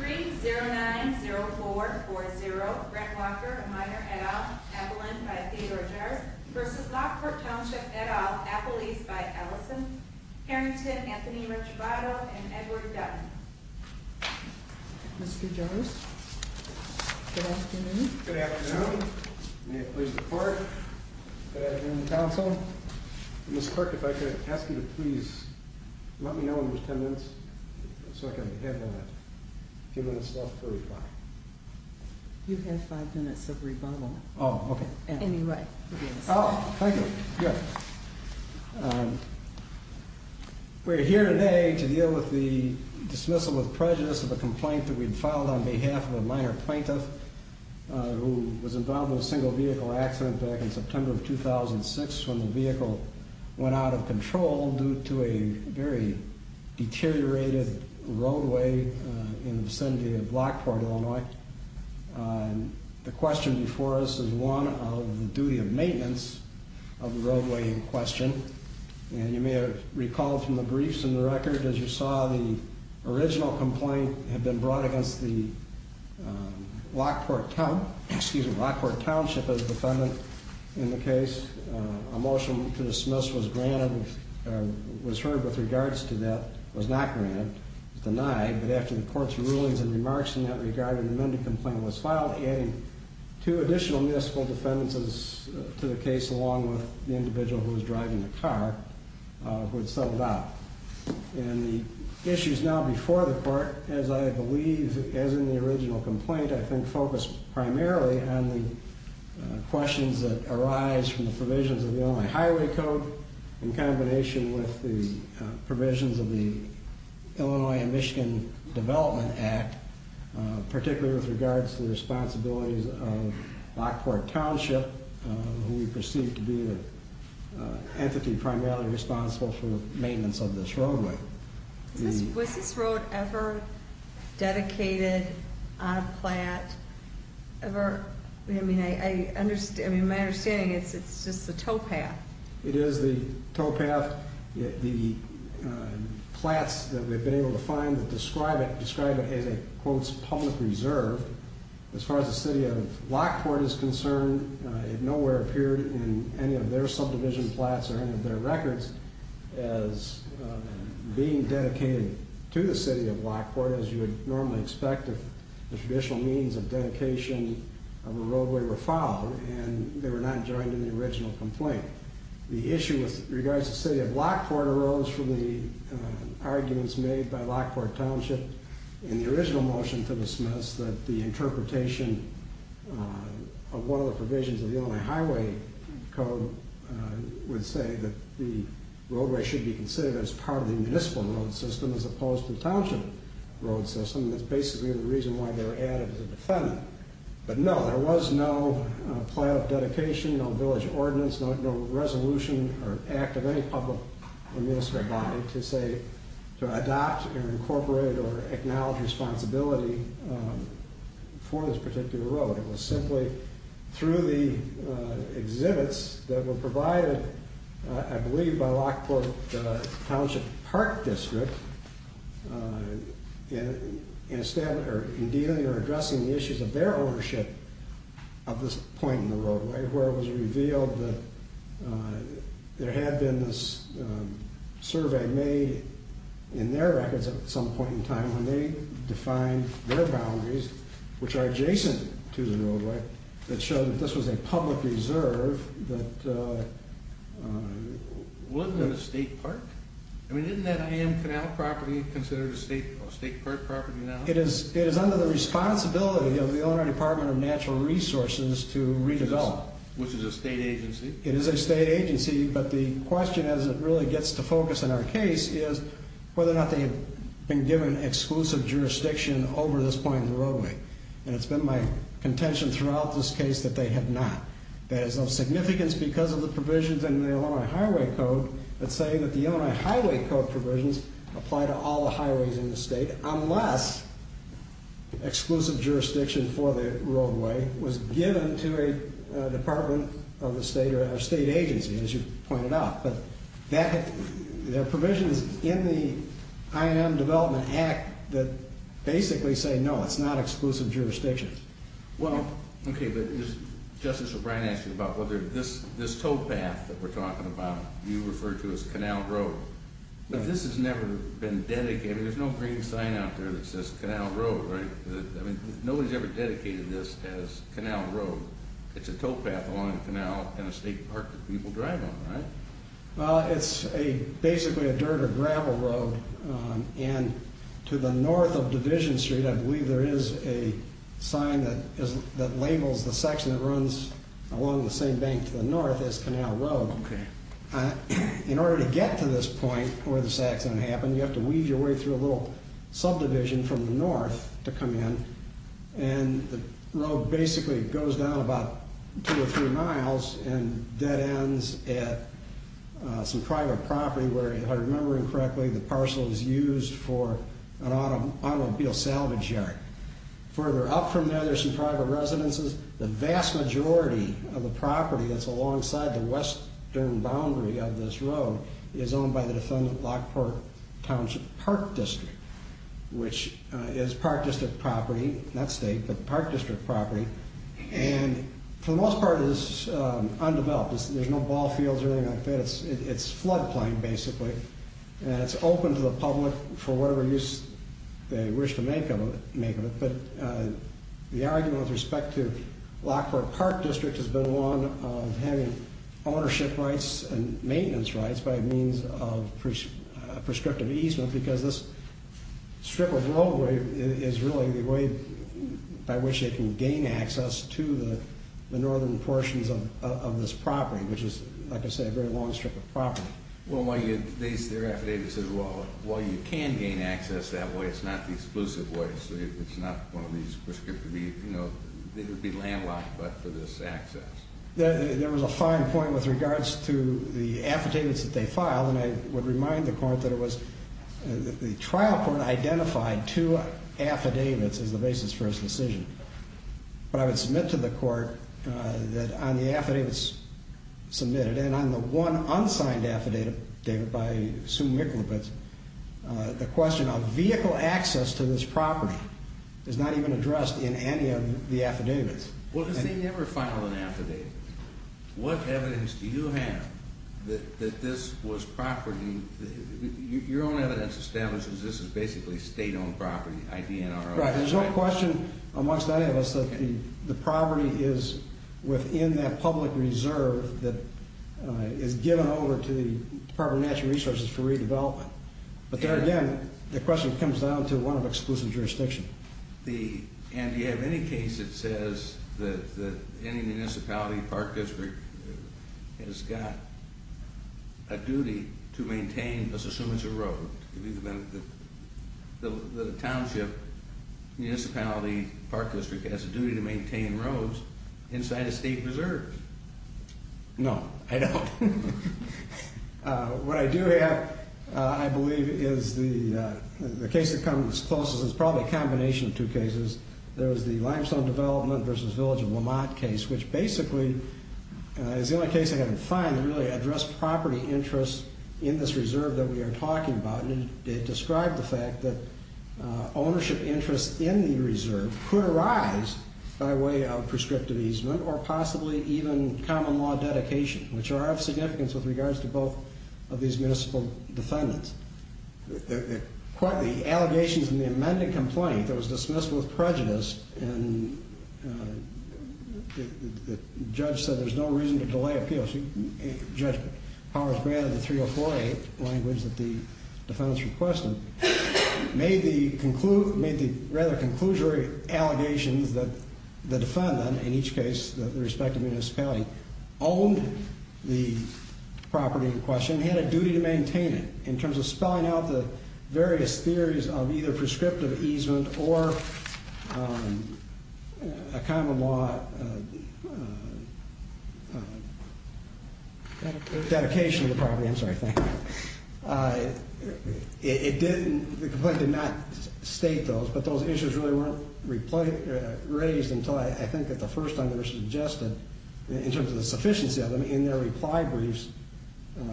3-090-440 Brent Walker, a minor, et al., Appolin, by Theodore Jarvis, v. Lockport Township, et al., Appolese, by Allison, Harrington, Anthony Ricciabato, and Edward Dunn. Mr. Jarvis, good afternoon. Good afternoon. May it please the court, good afternoon, counsel. Ms. Clark, if I could ask you to please let me know when there's ten minutes so I can have a few minutes left to reply. You have five minutes of rebuttal. Oh, okay. Anyway, yes. Oh, thank you. Good. We're here today to deal with the dismissal with prejudice of a complaint that we'd filed on behalf of a minor plaintiff who was involved in a single vehicle accident back in September of 2006 when the vehicle went out of control due to a very deteriorated roadway in the vicinity of Lockport, Illinois. The question before us is one of the duty of maintenance of the roadway in question. And you may have recalled from the briefs in the record, as you saw, the original complaint had been brought against the Lockport Township as a defendant in the case. A motion to dismiss was heard with regards to that, was not granted, denied. But after the court's rulings and remarks in that regard, an amended complaint was filed adding two additional municipal defendants to the case along with the individual who was driving the car who had settled out. And the issues now before the court, as I believe as in the original complaint, I think focus primarily on the questions that arise from the provisions of the Illinois Highway Code in combination with the provisions of the Illinois and Michigan Development Act, particularly with regards to the responsibilities of Lockport Township, who we perceive to be the entity primarily responsible for the maintenance of this roadway. Was this road ever dedicated on a plat? Ever? I mean, my understanding is it's just the towpath. It is the towpath. The plats that we've been able to find that describe it as a, quote, public reserve. As far as the city of Lockport is concerned, it nowhere appeared in any of their subdivision plats or any of their records as being dedicated to the city of Lockport, as you would normally expect if the traditional means of dedication of a roadway were followed, and they were not joined in the original complaint. The issue with regards to the city of Lockport arose from the arguments made by Lockport Township in the original motion to dismiss that the interpretation of one of the provisions of the Illinois Highway Code would say that the roadway should be considered as part of the municipal road system as opposed to the township road system, and that's basically the reason why they were added as a defendant. But no, there was no plat of dedication, no village ordinance, no resolution or act of any public or municipal body to say, to adopt or incorporate or acknowledge responsibility for this particular road. It was simply through the exhibits that were provided, I believe, by Lockport Township Park District in dealing or addressing the issues of their ownership of this point in the roadway, where it was revealed that there had been this survey made in their records at some point in time when they defined their boundaries, which are adjacent to the roadway, that showed that this was a public reserve that... Wasn't it a state park? I mean, isn't that AM Canal property considered a state park property now? It is under the responsibility of the Illinois Department of Natural Resources to redevelop. Which is a state agency? It is a state agency, but the question as it really gets to focus in our case is whether or not they have been given exclusive jurisdiction over this point in the roadway. And it's been my contention throughout this case that they have not. There is no significance because of the provisions in the Illinois Highway Code that say that the Illinois Highway Code provisions apply to all the highways in the state unless exclusive jurisdiction for the roadway was given to a department of the state or a state agency, as you pointed out. But their provisions in the I&M Development Act that basically say no, it's not exclusive jurisdiction. Well, okay, but Justice O'Brien asked you about whether this towpath that we're talking about you refer to as Canal Road. But this has never been dedicated. There's no green sign out there that says Canal Road, right? Nobody's ever dedicated this as Canal Road. It's a towpath along the canal in a state park that people drive on, right? It's basically a dirt or gravel road and to the north of Division Street I believe there is a sign that labels the section that runs along the same bank to the north as Canal Road. In order to get to this point where this accident happened, you have to weave your way through a little subdivision from the north to come in. And the road basically goes down about two or three miles and dead ends at some private property where, if I'm remembering correctly, the parcel is used for an automobile salvage yard. Further up from there, there's some private residences. The vast majority of the property that's alongside the western boundary of this road is owned by the defendant Lockport Township Park District, which is park district property, not state, but park district property, and for the most part is undeveloped. There's no ball fields or anything like that. It's flood plain, basically, and it's open to the public for whatever use they wish to make of it. But the argument with respect to Lockport Park District has been one of having ownership rights and maintenance rights by means of prescriptive easement because this strip of roadway is really the way by which they can gain access to the northern portions of this property, which is, like I said, a very long strip of property. Well, while you can gain access that way, it's not the exclusive way, so it's not one of these prescriptive, you know, it would be landlocked but for this access. There was a fine point with regards to the affidavits that they filed, and I would remind the court that it was, the trial court identified two affidavits as the basis for its decision. But I would submit to the court that on the affidavits submitted and on the one unsigned affidavit by Sue Michalopetz, the question of vehicle access to this property is not even addressed in any of the affidavits. Well, does he ever file an affidavit? What evidence do you have that this was property, your own evidence establishes this is basically state-owned property, IDNRO? Right, there's no question amongst any of us that the property is within that public reserve that is given over to the Department of Natural Resources for redevelopment. But there again, the question comes down to one of exclusive jurisdiction. And do you have any case that says that any municipality, park district has got a duty to maintain, let's assume it's a road, the township, municipality, park district has a duty to maintain roads inside a state reserve? No, I don't. What I do have, I believe, is the case that comes closest is probably a combination of two cases. There was the limestone development versus village of Lamont case, which basically is the only case I could find that really addressed property interests in this reserve that we are talking about. And it described the fact that ownership interests in the reserve could arise by way of prescriptive easement or possibly even common law dedication, which are of significance with regards to both of these municipal defendants. Quite the allegations in the amended complaint that was dismissed with prejudice and the judge said there's no reason to delay appeals. Judge Powers granted the 3048 language that the defendants requested, made the rather conclusory allegations that the defendant, in each case the respective municipality, owned the property in question. Dedication of the property, I'm sorry, thank you. The complaint did not state those, but those issues really weren't raised until I think at the first time they were suggested in terms of the sufficiency of them in their reply briefs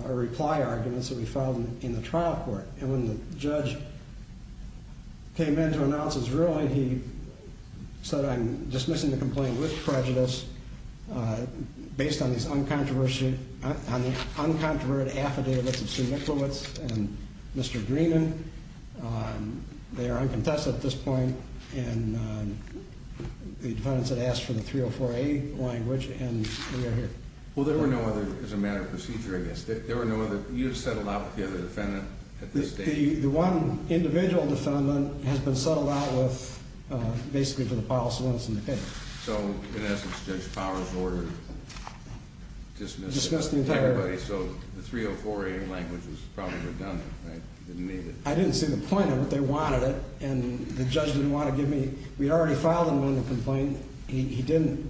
or reply arguments that we filed in the trial court. And when the judge came in to announce his ruling, he said, I'm dismissing the complaint with prejudice based on these uncontroversial, on the uncontroverted affidavits of Sue Micklewitz and Mr. Greenan. They are uncontested at this point and the defendants had asked for the 3048 language and we are here. Well, there were no other, as a matter of procedure, I guess, there were no other, you had settled out with the other defendant at this stage? The one individual defendant has been settled out with basically for the policy limits in the case. So, in essence, Judge Powers ordered dismissal. Dismissed the entire. Everybody, so the 3048 language was probably redundant, right? Didn't need it. I didn't see the point of it. They wanted it and the judge didn't want to give me, we'd already filed an amended complaint. He didn't,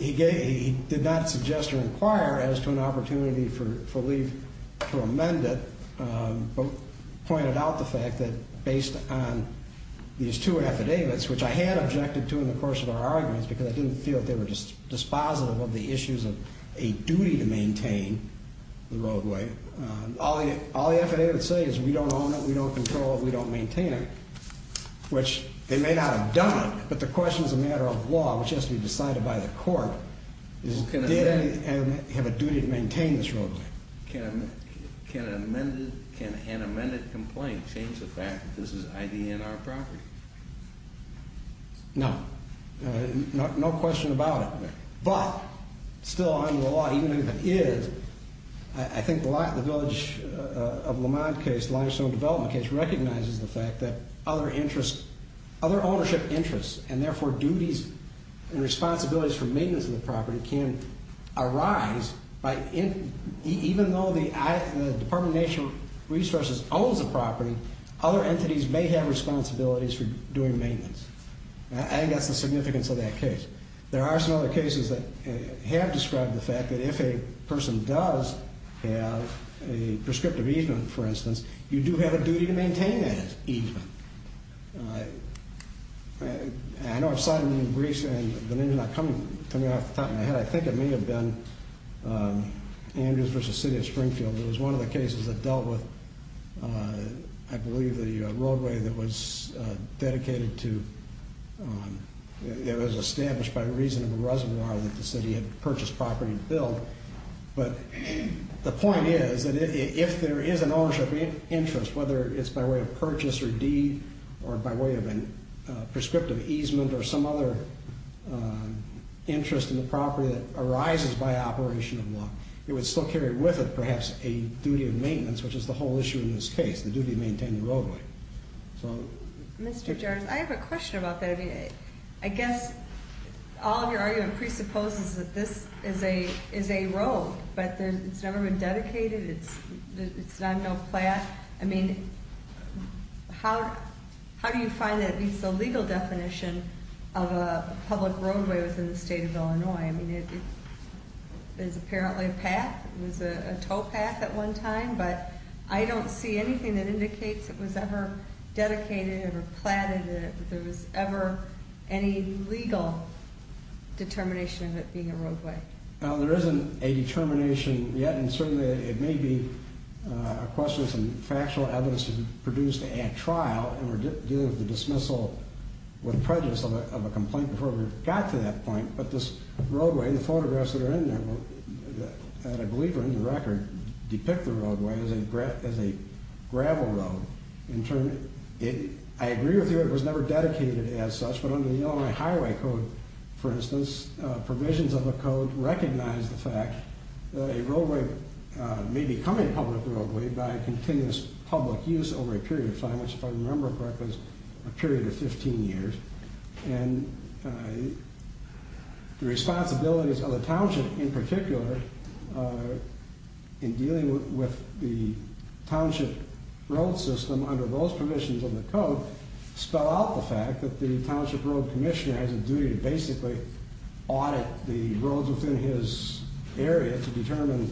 he did not suggest or inquire as to an opportunity for leave to amend it, but pointed out the fact that based on these two affidavits, which I had objected to in the course of our arguments because I didn't feel that they were dispositive of the issues of a duty to maintain the roadway. All the affidavits say is we don't own it, we don't control it, we don't maintain it, which they may not have done it, but the question is a matter of law, which has to be decided by the court. Does it have a duty to maintain this roadway? Can an amended complaint change the fact that this is ID and our property? No. No question about it. But still under the law, even if it is, I think the village of Lamont case, the limestone development case, recognizes the fact that other ownership interests and therefore duties and responsibilities for maintenance of the property can arise even though the Department of Natural Resources owns the property, other entities may have responsibilities for doing maintenance. I think that's the significance of that case. There are some other cases that have described the fact that if a person does have a prescriptive easement, for instance, you do have a duty to maintain that easement. I know I've cited them in briefs and the names are not coming off the top of my head. I think it may have been Andrews v. City of Springfield. It was one of the cases that dealt with, I believe, the roadway that was dedicated to, that was established by reason of a reservoir that the city had purchased property to build. But the point is that if there is an ownership interest, whether it's by way of purchase or deed or by way of a prescriptive easement or some other interest in the property that arises by operation of the block, it would still carry with it perhaps a duty of maintenance, which is the whole issue in this case, the duty to maintain the roadway. Mr. Jarnes, I have a question about that. I guess all of your argument presupposes that this is a road, but it's never been dedicated. It's not no plat. I mean, how do you find that it meets the legal definition of a public roadway within the state of Illinois? I mean, it is apparently a path. It was a towpath at one time, but I don't see anything that indicates it was ever dedicated or platted, that there was ever any legal determination of it being a roadway. Well, there isn't a determination yet, and certainly it may be a question of some factual evidence produced at trial, and we're dealing with the dismissal with prejudice of a complaint before we've got to that point. But this roadway, the photographs that are in there, that I believe are in the record, depict the roadway as a gravel road. In turn, I agree with you it was never dedicated as such, but under the Illinois Highway Code, for instance, provisions of the code recognize the fact that a roadway may become a public roadway by continuous public use over a period of time, which if I remember correctly is a period of 15 years. And the responsibilities of the township in particular in dealing with the township road system under those provisions of the code spell out the fact that the township road commissioner has a duty to basically audit the roads within his area to determine,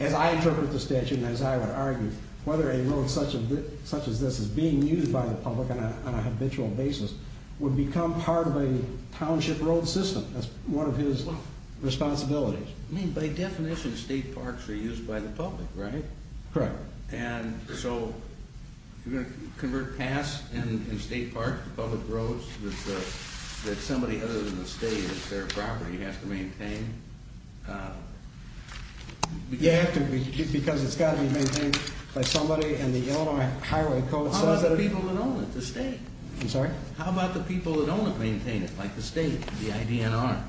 as I interpret the statute and as I would argue, whether a road such as this is being used by the public on a habitual basis would become part of a township road system. That's one of his responsibilities. I mean, by definition, state parks are used by the public, right? Correct. And so, you're going to convert paths in state parks to public roads that somebody other than the state, that's their property, has to maintain? Yeah, because it's got to be maintained by somebody and the Illinois Highway Code says that... How about the people that own it, the state? I'm sorry? How about the people that own it maintain it, like the state, the IDNR?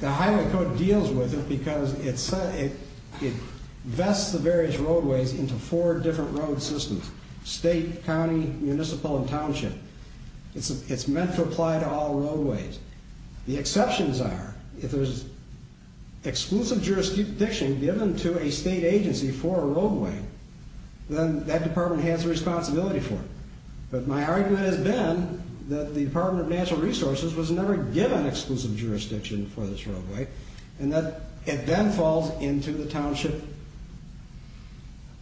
The Highway Code deals with it because it vests the various roadways into four different road systems, state, county, municipal, and township. It's meant to apply to all roadways. The exceptions are, if there's exclusive jurisdiction given to a state agency for a roadway, then that department has a responsibility for it. But my argument has been that the Department of Natural Resources was never given exclusive jurisdiction for this roadway and that it then falls into the township.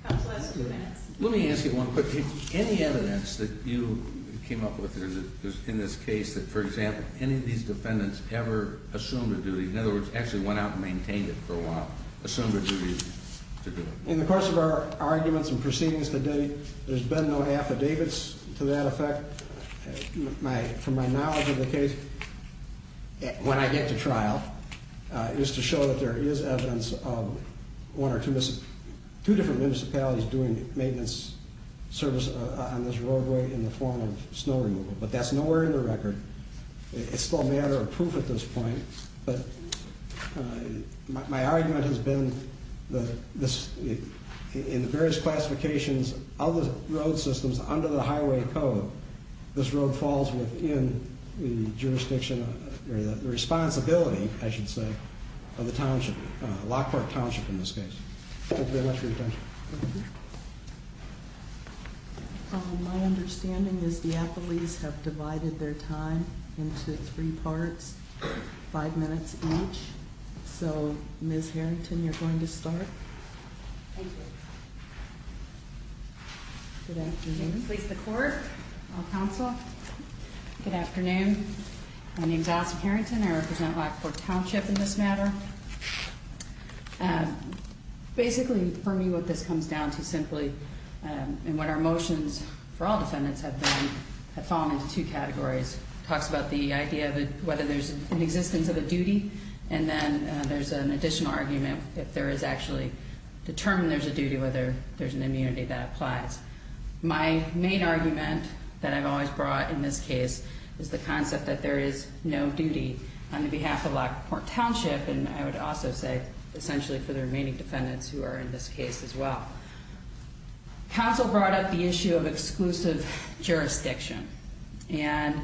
Counsel has two minutes. Let me ask you one quick thing. Any evidence that you came up with in this case that, for example, any of these defendants ever assumed a duty, in other words, actually went out and maintained it for a while, assumed a duty to do it? In the course of our arguments and proceedings today, there's been no affidavits to that effect. From my knowledge of the case, when I get to trial, is to show that there is evidence of one or two different municipalities doing maintenance service on this roadway in the form of snow removal. But that's nowhere in the record. It's still a matter of proof at this point. But my argument has been that in the various classifications of the road systems under the Highway Code, this road falls within the jurisdiction or the responsibility, I should say, of the township, Lockhart Township in this case. Thank you very much for your time. Thank you. My understanding is the affidavits have divided their time into three parts, five minutes each. So, Ms. Harrington, you're going to start. Thank you. Good afternoon. Please the court. Counsel. Good afternoon. My name's Alison Harrington. I represent Lockhart Township in this matter. Basically, for me, what this comes down to simply, and what our motions for all defendants have been, have fallen into two categories. It talks about the idea of whether there's an existence of a duty, and then there's an additional argument if there is actually determined there's a duty, whether there's an immunity that applies. My main argument that I've always brought in this case is the concept that there is no duty on behalf of Lockhart Township, and I would also say essentially for the remaining defendants who are in this case as well. Counsel brought up the issue of exclusive jurisdiction. And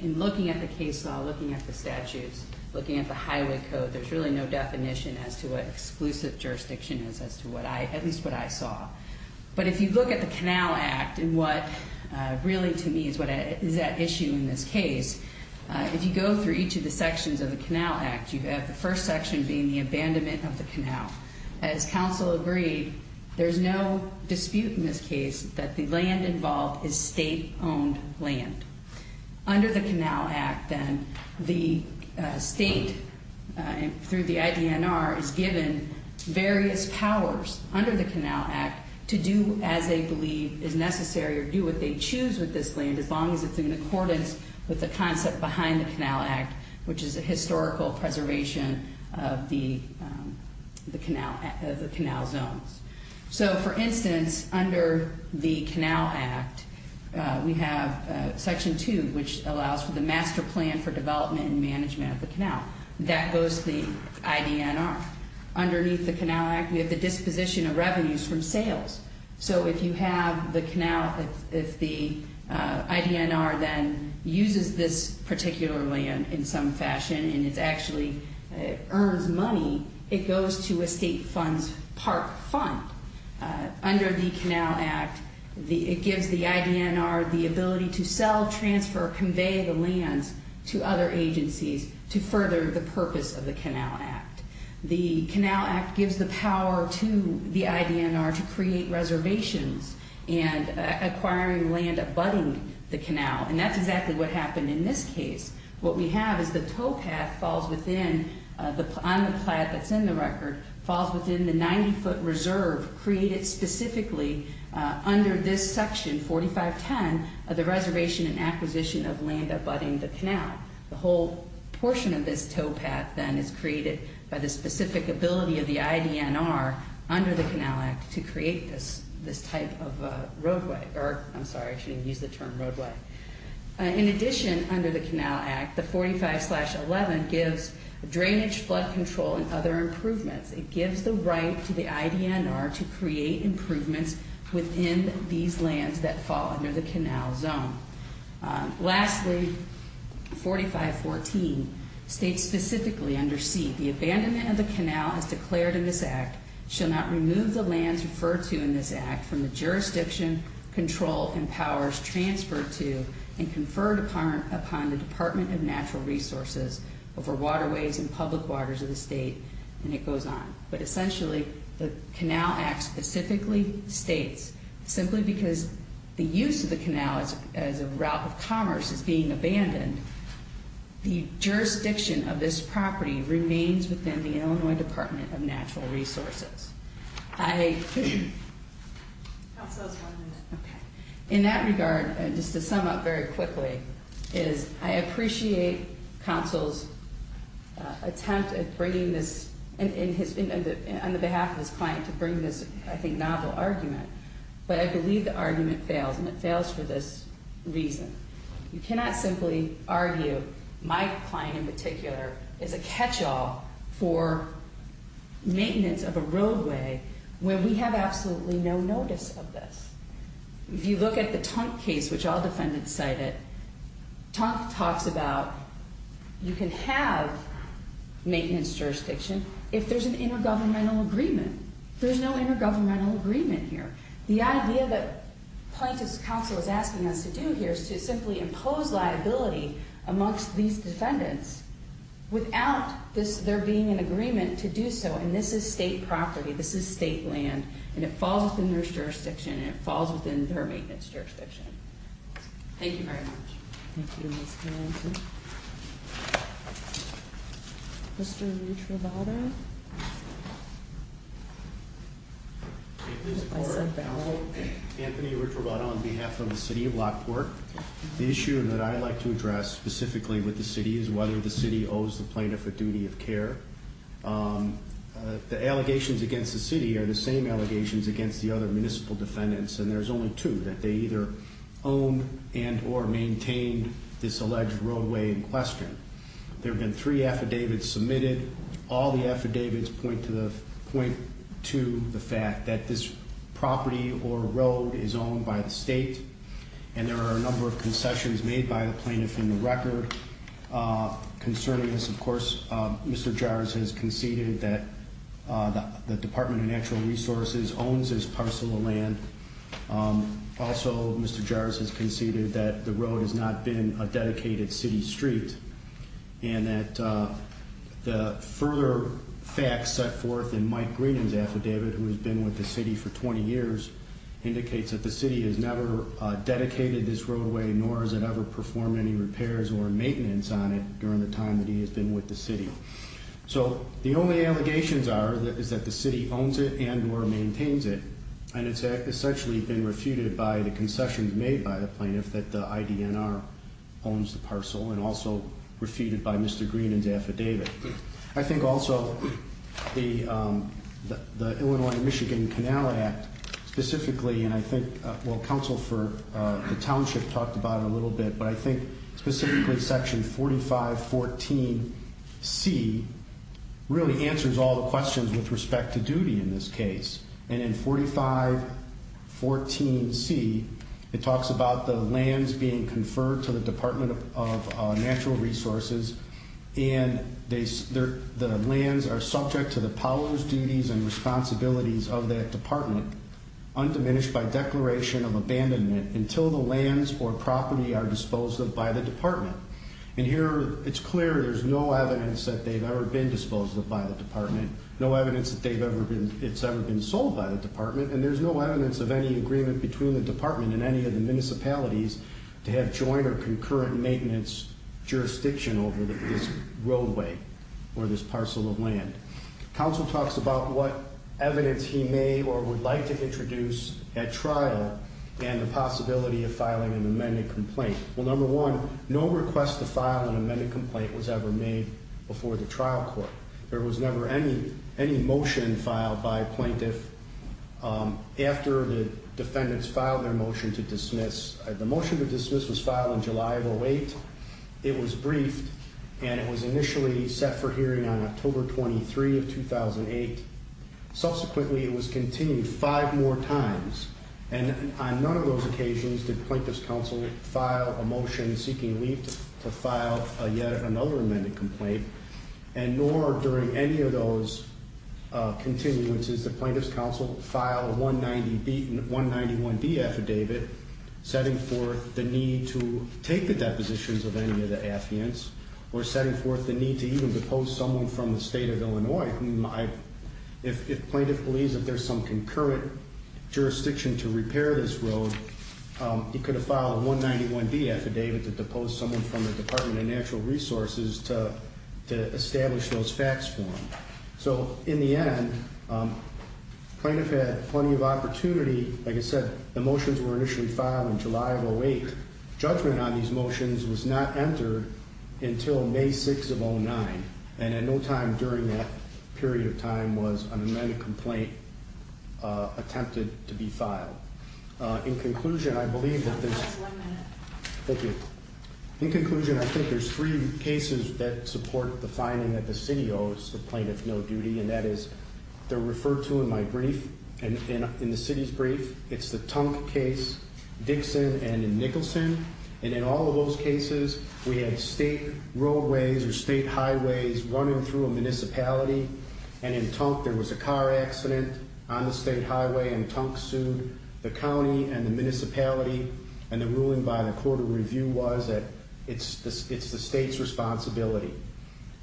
in looking at the case law, looking at the statutes, looking at the Highway Code, there's really no definition as to what exclusive jurisdiction is as to what I, at least what I saw. But if you look at the Canal Act and what really to me is what is at issue in this case, if you go through each of the sections of the Canal Act, you have the first section being the abandonment of the canal. As counsel agreed, there's no dispute in this case that the land involved is state-owned land. Under the Canal Act, then, the state, through the IDNR, is given various powers under the Canal Act to do as they believe is necessary or do what they choose with this land as long as it's in accordance with the concept behind the Canal Act, which is a historical preservation of the canal zones. So, for instance, under the Canal Act, we have Section 2, which allows for the master plan for development and management of the canal. That goes to the IDNR. Underneath the Canal Act, we have the disposition of revenues from sales. So if you have the canal, if the IDNR then uses this particular land in some fashion and it actually earns money, it goes to a state funds park fund. Under the Canal Act, it gives the IDNR the ability to sell, transfer, convey the lands to other agencies to further the purpose of the Canal Act. The Canal Act gives the power to the IDNR to create reservations and acquiring land abutting the canal, and that's exactly what happened in this case. What we have is the towpath falls within, on the plat that's in the record, falls within the 90-foot reserve created specifically under this section, 4510, of the reservation and acquisition of land abutting the canal. The whole portion of this towpath then is created by the specific ability of the IDNR under the Canal Act to create this type of roadway, or I'm sorry, I shouldn't use the term roadway. In addition, under the Canal Act, the 45-11 gives drainage flood control and other improvements. It gives the right to the IDNR to create improvements within these lands that fall under the canal zone. Lastly, 4514 states specifically under C, the abandonment of the canal as declared in this act shall not remove the lands referred to in this act from the jurisdiction, control, and powers transferred to and conferred upon the Department of Natural Resources over waterways and public waters of the state, and it goes on. But essentially, the Canal Act specifically states simply because the use of the canal as a route of commerce is being abandoned, the jurisdiction of this property remains within the Illinois Department of Natural Resources. I, in that regard, just to sum up very quickly, is I appreciate counsel's attempt at bringing this, in his, on the behalf of his client to bring this, I think, novel argument, but I believe the argument fails, and it fails for this reason. You cannot simply argue, my client in particular, is a catch-all for maintenance of a roadway when we have absolutely no notice of this. If you look at the Tunk case, which all defendants cited, Tunk talks about you can have maintenance jurisdiction if there's an intergovernmental agreement. There's no intergovernmental agreement here. The idea that plaintiff's counsel is asking us to do here is to simply impose liability amongst these defendants without there being an agreement to do so, and this is state property. This is state land, and it falls within their jurisdiction, and it falls within their maintenance jurisdiction. Thank you very much. Thank you, Ms. Conanty. Mr. Lutrovato? Anthony Lutrovato on behalf of the city of Lockport. The issue that I'd like to address specifically with the city is whether the city owes the plaintiff a duty of care. The allegations against the city are the same allegations against the other municipal defendants, and there's only two, that they either own and or maintain this alleged roadway in question. There have been three affidavits submitted. All the affidavits point to the fact that this property or road is owned by the state, and there are a number of concessions made by the plaintiff in the record. Concerning this, of course, Mr. Jarz has conceded that the Department of Natural Resources owns this parcel of land. Also, Mr. Jarz has conceded that the road has not been a dedicated city street, and that the further facts set forth in Mike Greenan's affidavit, who has been with the city for 20 years, indicates that the city has never dedicated this roadway, nor has it ever performed any repairs or maintenance on it during the time that he has been with the city. So the only allegations are that the city owns it and or maintains it, and it's actually been refuted by the concessions made by the plaintiff that the IDNR owns the parcel, and also refuted by Mr. Greenan's affidavit. I think also the Illinois-Michigan Canal Act specifically, and I think Council for the Township talked about it a little bit, but I think specifically section 4514C really answers all the questions with respect to duty in this case. And in 4514C, it talks about the lands being conferred to the Department of Natural Resources, and the lands are subject to the powers, duties, and responsibilities of that department, undiminished by declaration of abandonment, until the lands or property are disposed of by the department. And here it's clear there's no evidence that they've ever been disposed of by the department, no evidence that it's ever been sold by the department, and there's no evidence of any agreement between the department and any of the municipalities to have joint or concurrent maintenance jurisdiction over this roadway or this parcel of land. Council talks about what evidence he may or would like to introduce at trial, and the possibility of filing an amended complaint. Well, number one, no request to file an amended complaint was ever made before the trial court. There was never any motion filed by a plaintiff after the defendants filed their motion to dismiss. The motion to dismiss was filed in July of 08. It was briefed, and it was initially set for hearing on October 23 of 2008. Subsequently, it was continued five more times, and on none of those occasions did plaintiff's counsel file a motion seeking leave to file yet another amended complaint, and nor during any of those continuances did plaintiff's counsel file a 191B affidavit setting forth the need to take the depositions of any of the affidavits or setting forth the need to even depose someone from the state of Illinois. If plaintiff believes that there's some concurrent jurisdiction to repair this road, he could have filed a 191B affidavit to depose someone from the Department of Natural Resources to establish those facts for him. So, in the end, plaintiff had plenty of opportunity. Like I said, the motions were initially filed in July of 08. Judgment on these motions was not entered until May 6 of 09, and at no time during that period of time was an amended complaint attempted to be filed. In conclusion, I think there's three cases that support the finding that the city owes the plaintiff no duty, and that is they're referred to in the city's brief. It's the Tunk case, Dixon, and Nicholson, and in all of those cases, we had state roadways or state highways running through a municipality, and in Tunk, there was a car accident on the state highway, and Tunk sued. The county and the municipality and the ruling by the Court of Review was that it's the state's responsibility,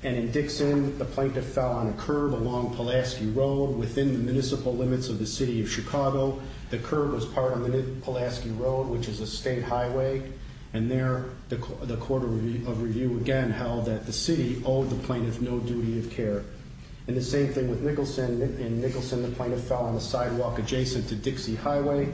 and in Dixon, the plaintiff fell on a curb along Pulaski Road within the municipal limits of the city of Chicago. The curb was part of Pulaski Road, which is a state highway, and there, the Court of Review again held that the city owed the plaintiff no duty of care. And the same thing with Nicholson. In Nicholson, the plaintiff fell on the sidewalk adjacent to Dixie Highway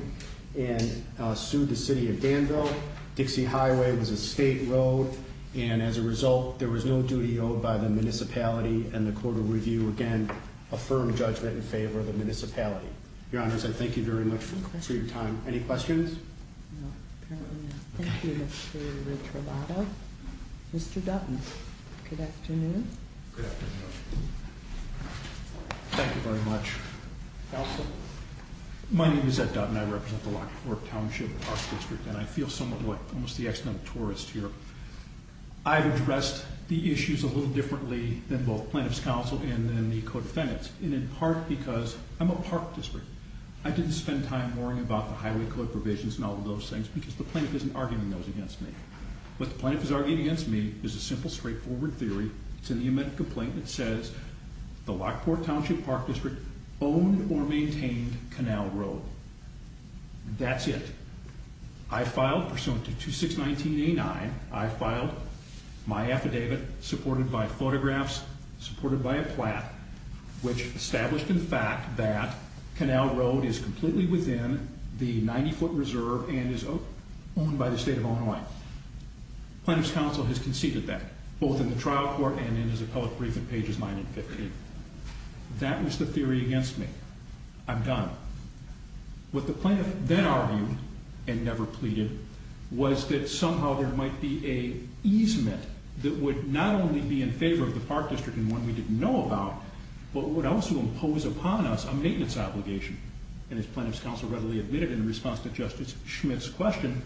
and sued the city of Danville. Dixie Highway was a state road, and as a result, there was no duty owed by the municipality, and the Court of Review again affirmed judgment in favor of the municipality. Your Honors, I thank you very much for your time. Any questions? No, apparently not. Thank you, Mr. Retrovato. Mr. Dutton, good afternoon. Good afternoon. Thank you very much. Counsel? My name is Ed Dutton. I represent the Lockport Township Park District, and I feel somewhat like almost the external tourist here. I've addressed the issues a little differently than both plaintiff's counsel and then the codefendants, and in part because I'm a park district. I didn't spend time worrying about the highway code provisions and all of those things because the plaintiff isn't arguing those against me. What the plaintiff is arguing against me is a simple, straightforward theory. It's in the amendment complaint that says the Lockport Township Park District owned or maintained Canal Road. That's it. I filed pursuant to 2619A9, I filed my affidavit supported by photographs, supported by a plat, which established in fact that Canal Road is completely within the 90-foot reserve and is owned by the state of Illinois. Plaintiff's counsel has conceded that, both in the trial court and in his appellate brief in pages 9 and 15. That was the theory against me. I'm done. What the plaintiff then argued, and never pleaded, was that somehow there might be an easement that would not only be in favor of the park district and one we didn't know about, but would also impose upon us a maintenance obligation. And as plaintiff's counsel readily admitted in response to Justice Schmidt's question,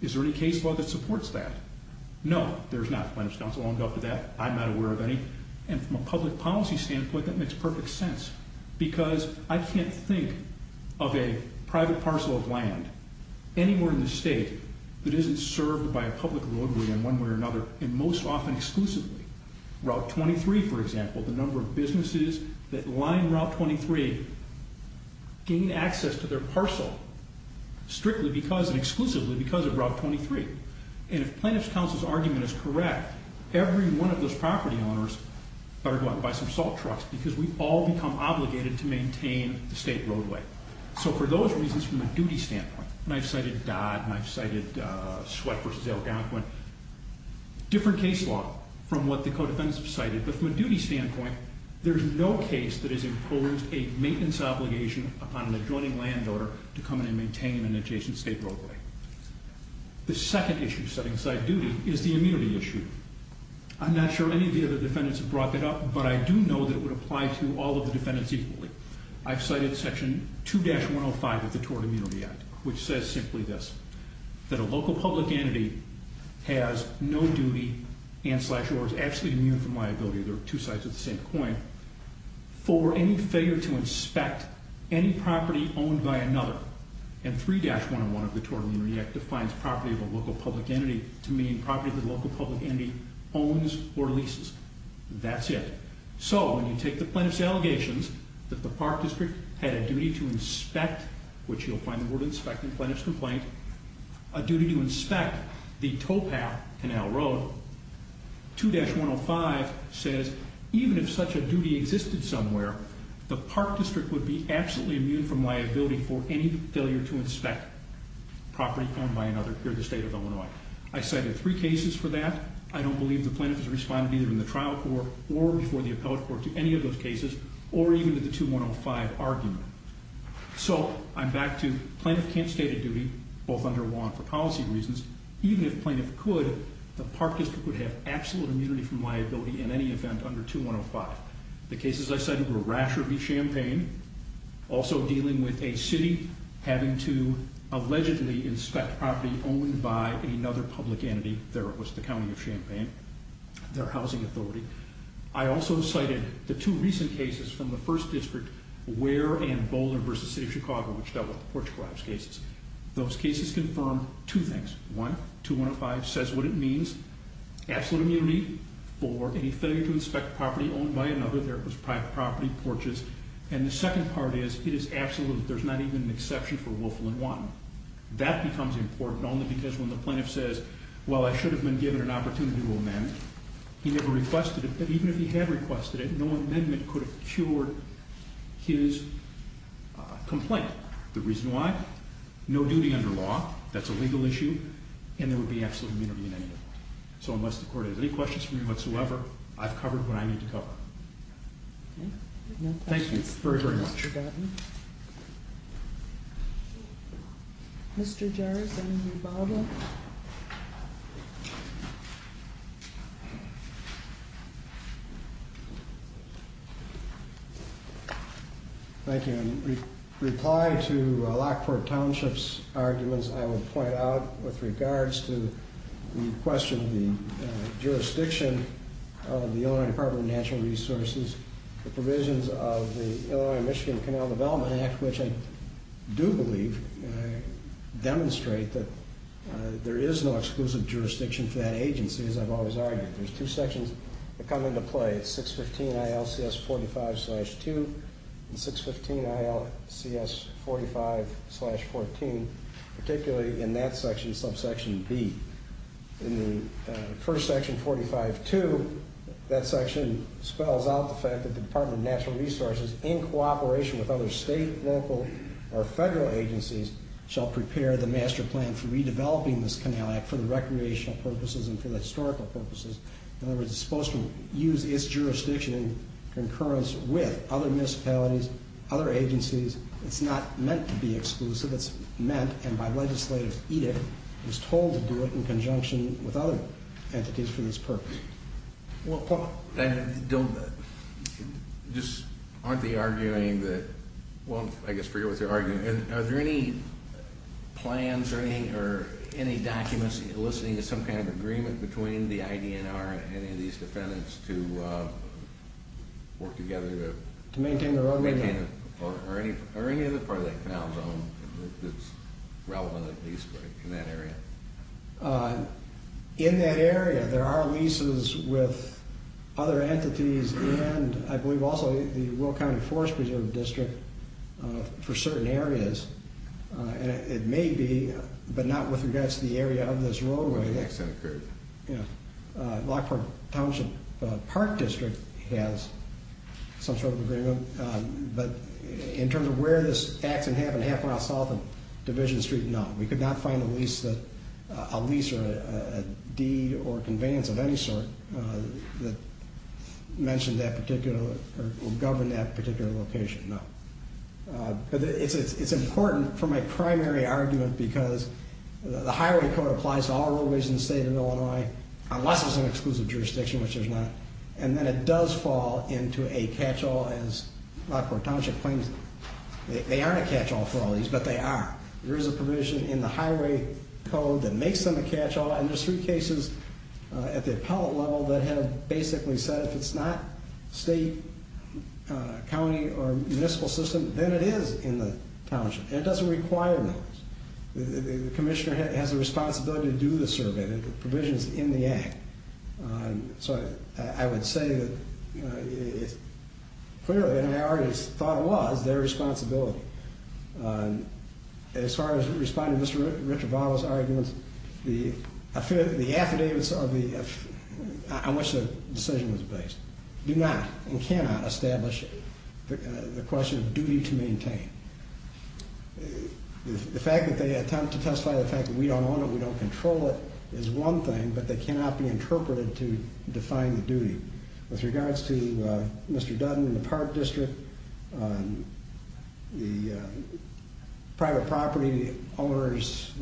is there any case law that supports that? No, there's not. Plaintiff's counsel owned up to that. I'm not aware of any. And from a public policy standpoint, that makes perfect sense. Because I can't think of a private parcel of land anywhere in the state that isn't served by a public roadway in one way or another, and most often exclusively. Route 23, for example, the number of businesses that line Route 23 gain access to their parcel strictly because and exclusively because of Route 23. And if plaintiff's counsel's argument is correct, every one of those property owners better go out and buy some salt trucks, because we've all become obligated to maintain the state roadway. So for those reasons, from a duty standpoint, and I've cited Dodd, and I've cited Sweatt v. Algonquin, different case law from what the co-defendants have cited. But from a duty standpoint, there's no case that has imposed a maintenance obligation upon an adjoining landowner to come in and maintain an adjacent state roadway. The second issue setting aside duty is the immunity issue. I'm not sure any of the other defendants have brought that up, but I do know that it would apply to all of the defendants equally. I've cited section 2-105 of the Tort Immunity Act, which says simply this. That a local public entity has no duty and slash or is absolutely immune from liability. They're two sides of the same coin. For any failure to inspect any property owned by another. And 3-101 of the Tort Immunity Act defines property of a local public entity to mean property that a local public entity owns or leases. That's it. So, when you take the plaintiff's allegations that the park district had a duty to inspect, which you'll find the word inspect in the plaintiff's complaint. A duty to inspect the towpath canal road. 2-105 says even if such a duty existed somewhere, the park district would be absolutely immune from liability for any failure to inspect property owned by another here in the state of Illinois. I cited three cases for that. I don't believe the plaintiff has responded either in the trial court or before the appellate court to any of those cases or even to the 2-105 argument. So, I'm back to plaintiff can't state a duty, both under law and for policy reasons. Even if plaintiff could, the park district would have absolute immunity from liability in any event under 2-105. The cases I cited were Rasher v. Champaign, also dealing with a city having to allegedly inspect property owned by another public entity. There it was, the county of Champaign, their housing authority. I also cited the two recent cases from the first district, Ware and Boulder v. City of Chicago, which dealt with the porch collapse cases. Those cases confirmed two things. One, 2-105 says what it means. Absolute immunity for any failure to inspect property owned by another. There it was, private property, porches. And the second part is, it is absolute. There's not even an exception for Wolfland-Wanton. That becomes important only because when the plaintiff says, well, I should have been given an opportunity to amend, he never requested it. But even if he had requested it, no amendment could have cured his complaint. The reason why? No duty under law. That's a legal issue. And there would be absolute immunity in any event. So unless the court has any questions for me whatsoever, I've covered what I need to cover. Okay. No questions. Thank you very, very much. Mr. Gatton. Mr. Jarrett, anything to follow up? Thank you. In reply to Lockport Township's arguments, I would point out with regards to the question of the jurisdiction of the Illinois Department of Natural Resources, the provisions of the Illinois-Michigan Canal Development Act, which I do believe demonstrate that there is no exclusive jurisdiction for that agency, as I've always argued. There's two sections that come into play. It's 615 ILCS 45-2 and 615 ILCS 45-14, particularly in that section, subsection B. In the first section, 45-2, that section spells out the fact that the Department of Natural Resources, in cooperation with other state, local, or federal agencies, shall prepare the master plan for redeveloping this canal act for the recreational purposes and for the historical purposes. In other words, it's supposed to use its jurisdiction in concurrence with other municipalities, other agencies. It's not meant to be exclusive. It's meant, and by legislative edict, it was told to do it in conjunction with other entities for this purpose. Well, Paul, just aren't they arguing that, well, I guess I forget what they're arguing. Are there any plans or any documents eliciting some kind of agreement between the IDNR and any of these defendants to work together to maintain the roadway? Maintain it. Or any other part of that canal zone that's relevant at least in that area? In that area, there are leases with other entities and I believe also the Will County Forest Preserve District for certain areas. It may be, but not with regards to the area of this roadway. The accident occurred. Yeah. Lockport Township Park District has some sort of agreement, but in terms of where this accident happened, half a mile south of Division Street, no. We could not find a lease or a deed or conveyance of any sort that mentioned that particular or governed that particular location, no. But it's important for my primary argument because the Highway Code applies to all roadways in the state of Illinois, unless there's an exclusive jurisdiction, which there's not. And then it does fall into a catch-all as Lockport Township claims. They aren't a catch-all for all these, but they are. There is a provision in the Highway Code that makes them a catch-all. And there's three cases at the appellate level that have basically said if it's not state, county, or municipal system, then it is in the township. And it doesn't require those. The commissioner has a responsibility to do the survey. The provision's in the act. So I would say that it's clearly, and I already thought it was, their responsibility. As far as responding to Mr. Retrovato's arguments, the affidavits on which the decision was based do not and cannot establish the question of duty to maintain. The fact that they attempt to testify to the fact that we don't own it, we don't control it, is one thing, but they cannot be interpreted to define the duty. With regards to Mr. Dutton in the Park District, the private property owner's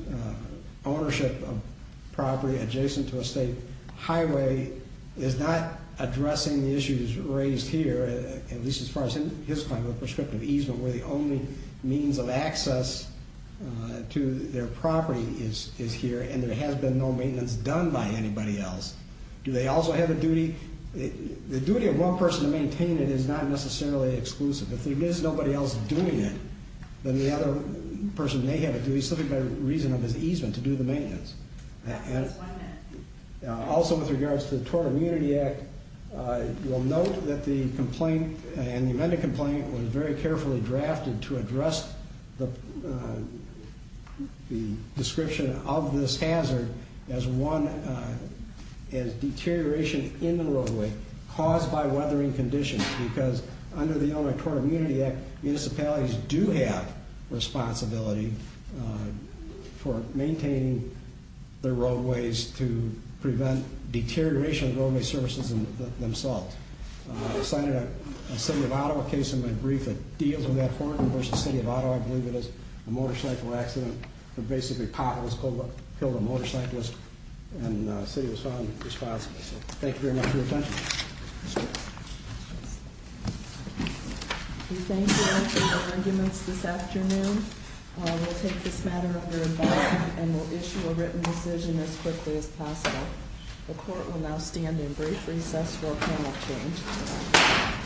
ownership of property adjacent to a state highway is not addressing the issues raised here, at least as far as his claim of prescriptive easement, where the only means of access to their property is here, and there has been no maintenance done by anybody else. Do they also have a duty? The duty of one person to maintain it is not necessarily exclusive. If there is nobody else doing it, then the other person may have a duty, simply by reason of his easement, to do the maintenance. One minute. Also with regards to the Tort Immunity Act, we'll note that the complaint, and the amended complaint, was very carefully drafted to address the description of this hazard as deterioration in the roadway caused by weathering conditions, because under the Elementary Tort Immunity Act, municipalities do have responsibility for maintaining their roadways to prevent deterioration of roadway services themselves. I cited a City of Ottawa case in my brief that deals with that for me, versus City of Ottawa, I believe it is, a motorcycle accident, where basically a cop killed a motorcyclist, and the city was found responsible. Thank you very much for your attention. We thank you for your arguments this afternoon. We'll take this matter under investigation, and we'll issue a written decision as quickly as possible. The court will now stand in brief recess for a panel exchange.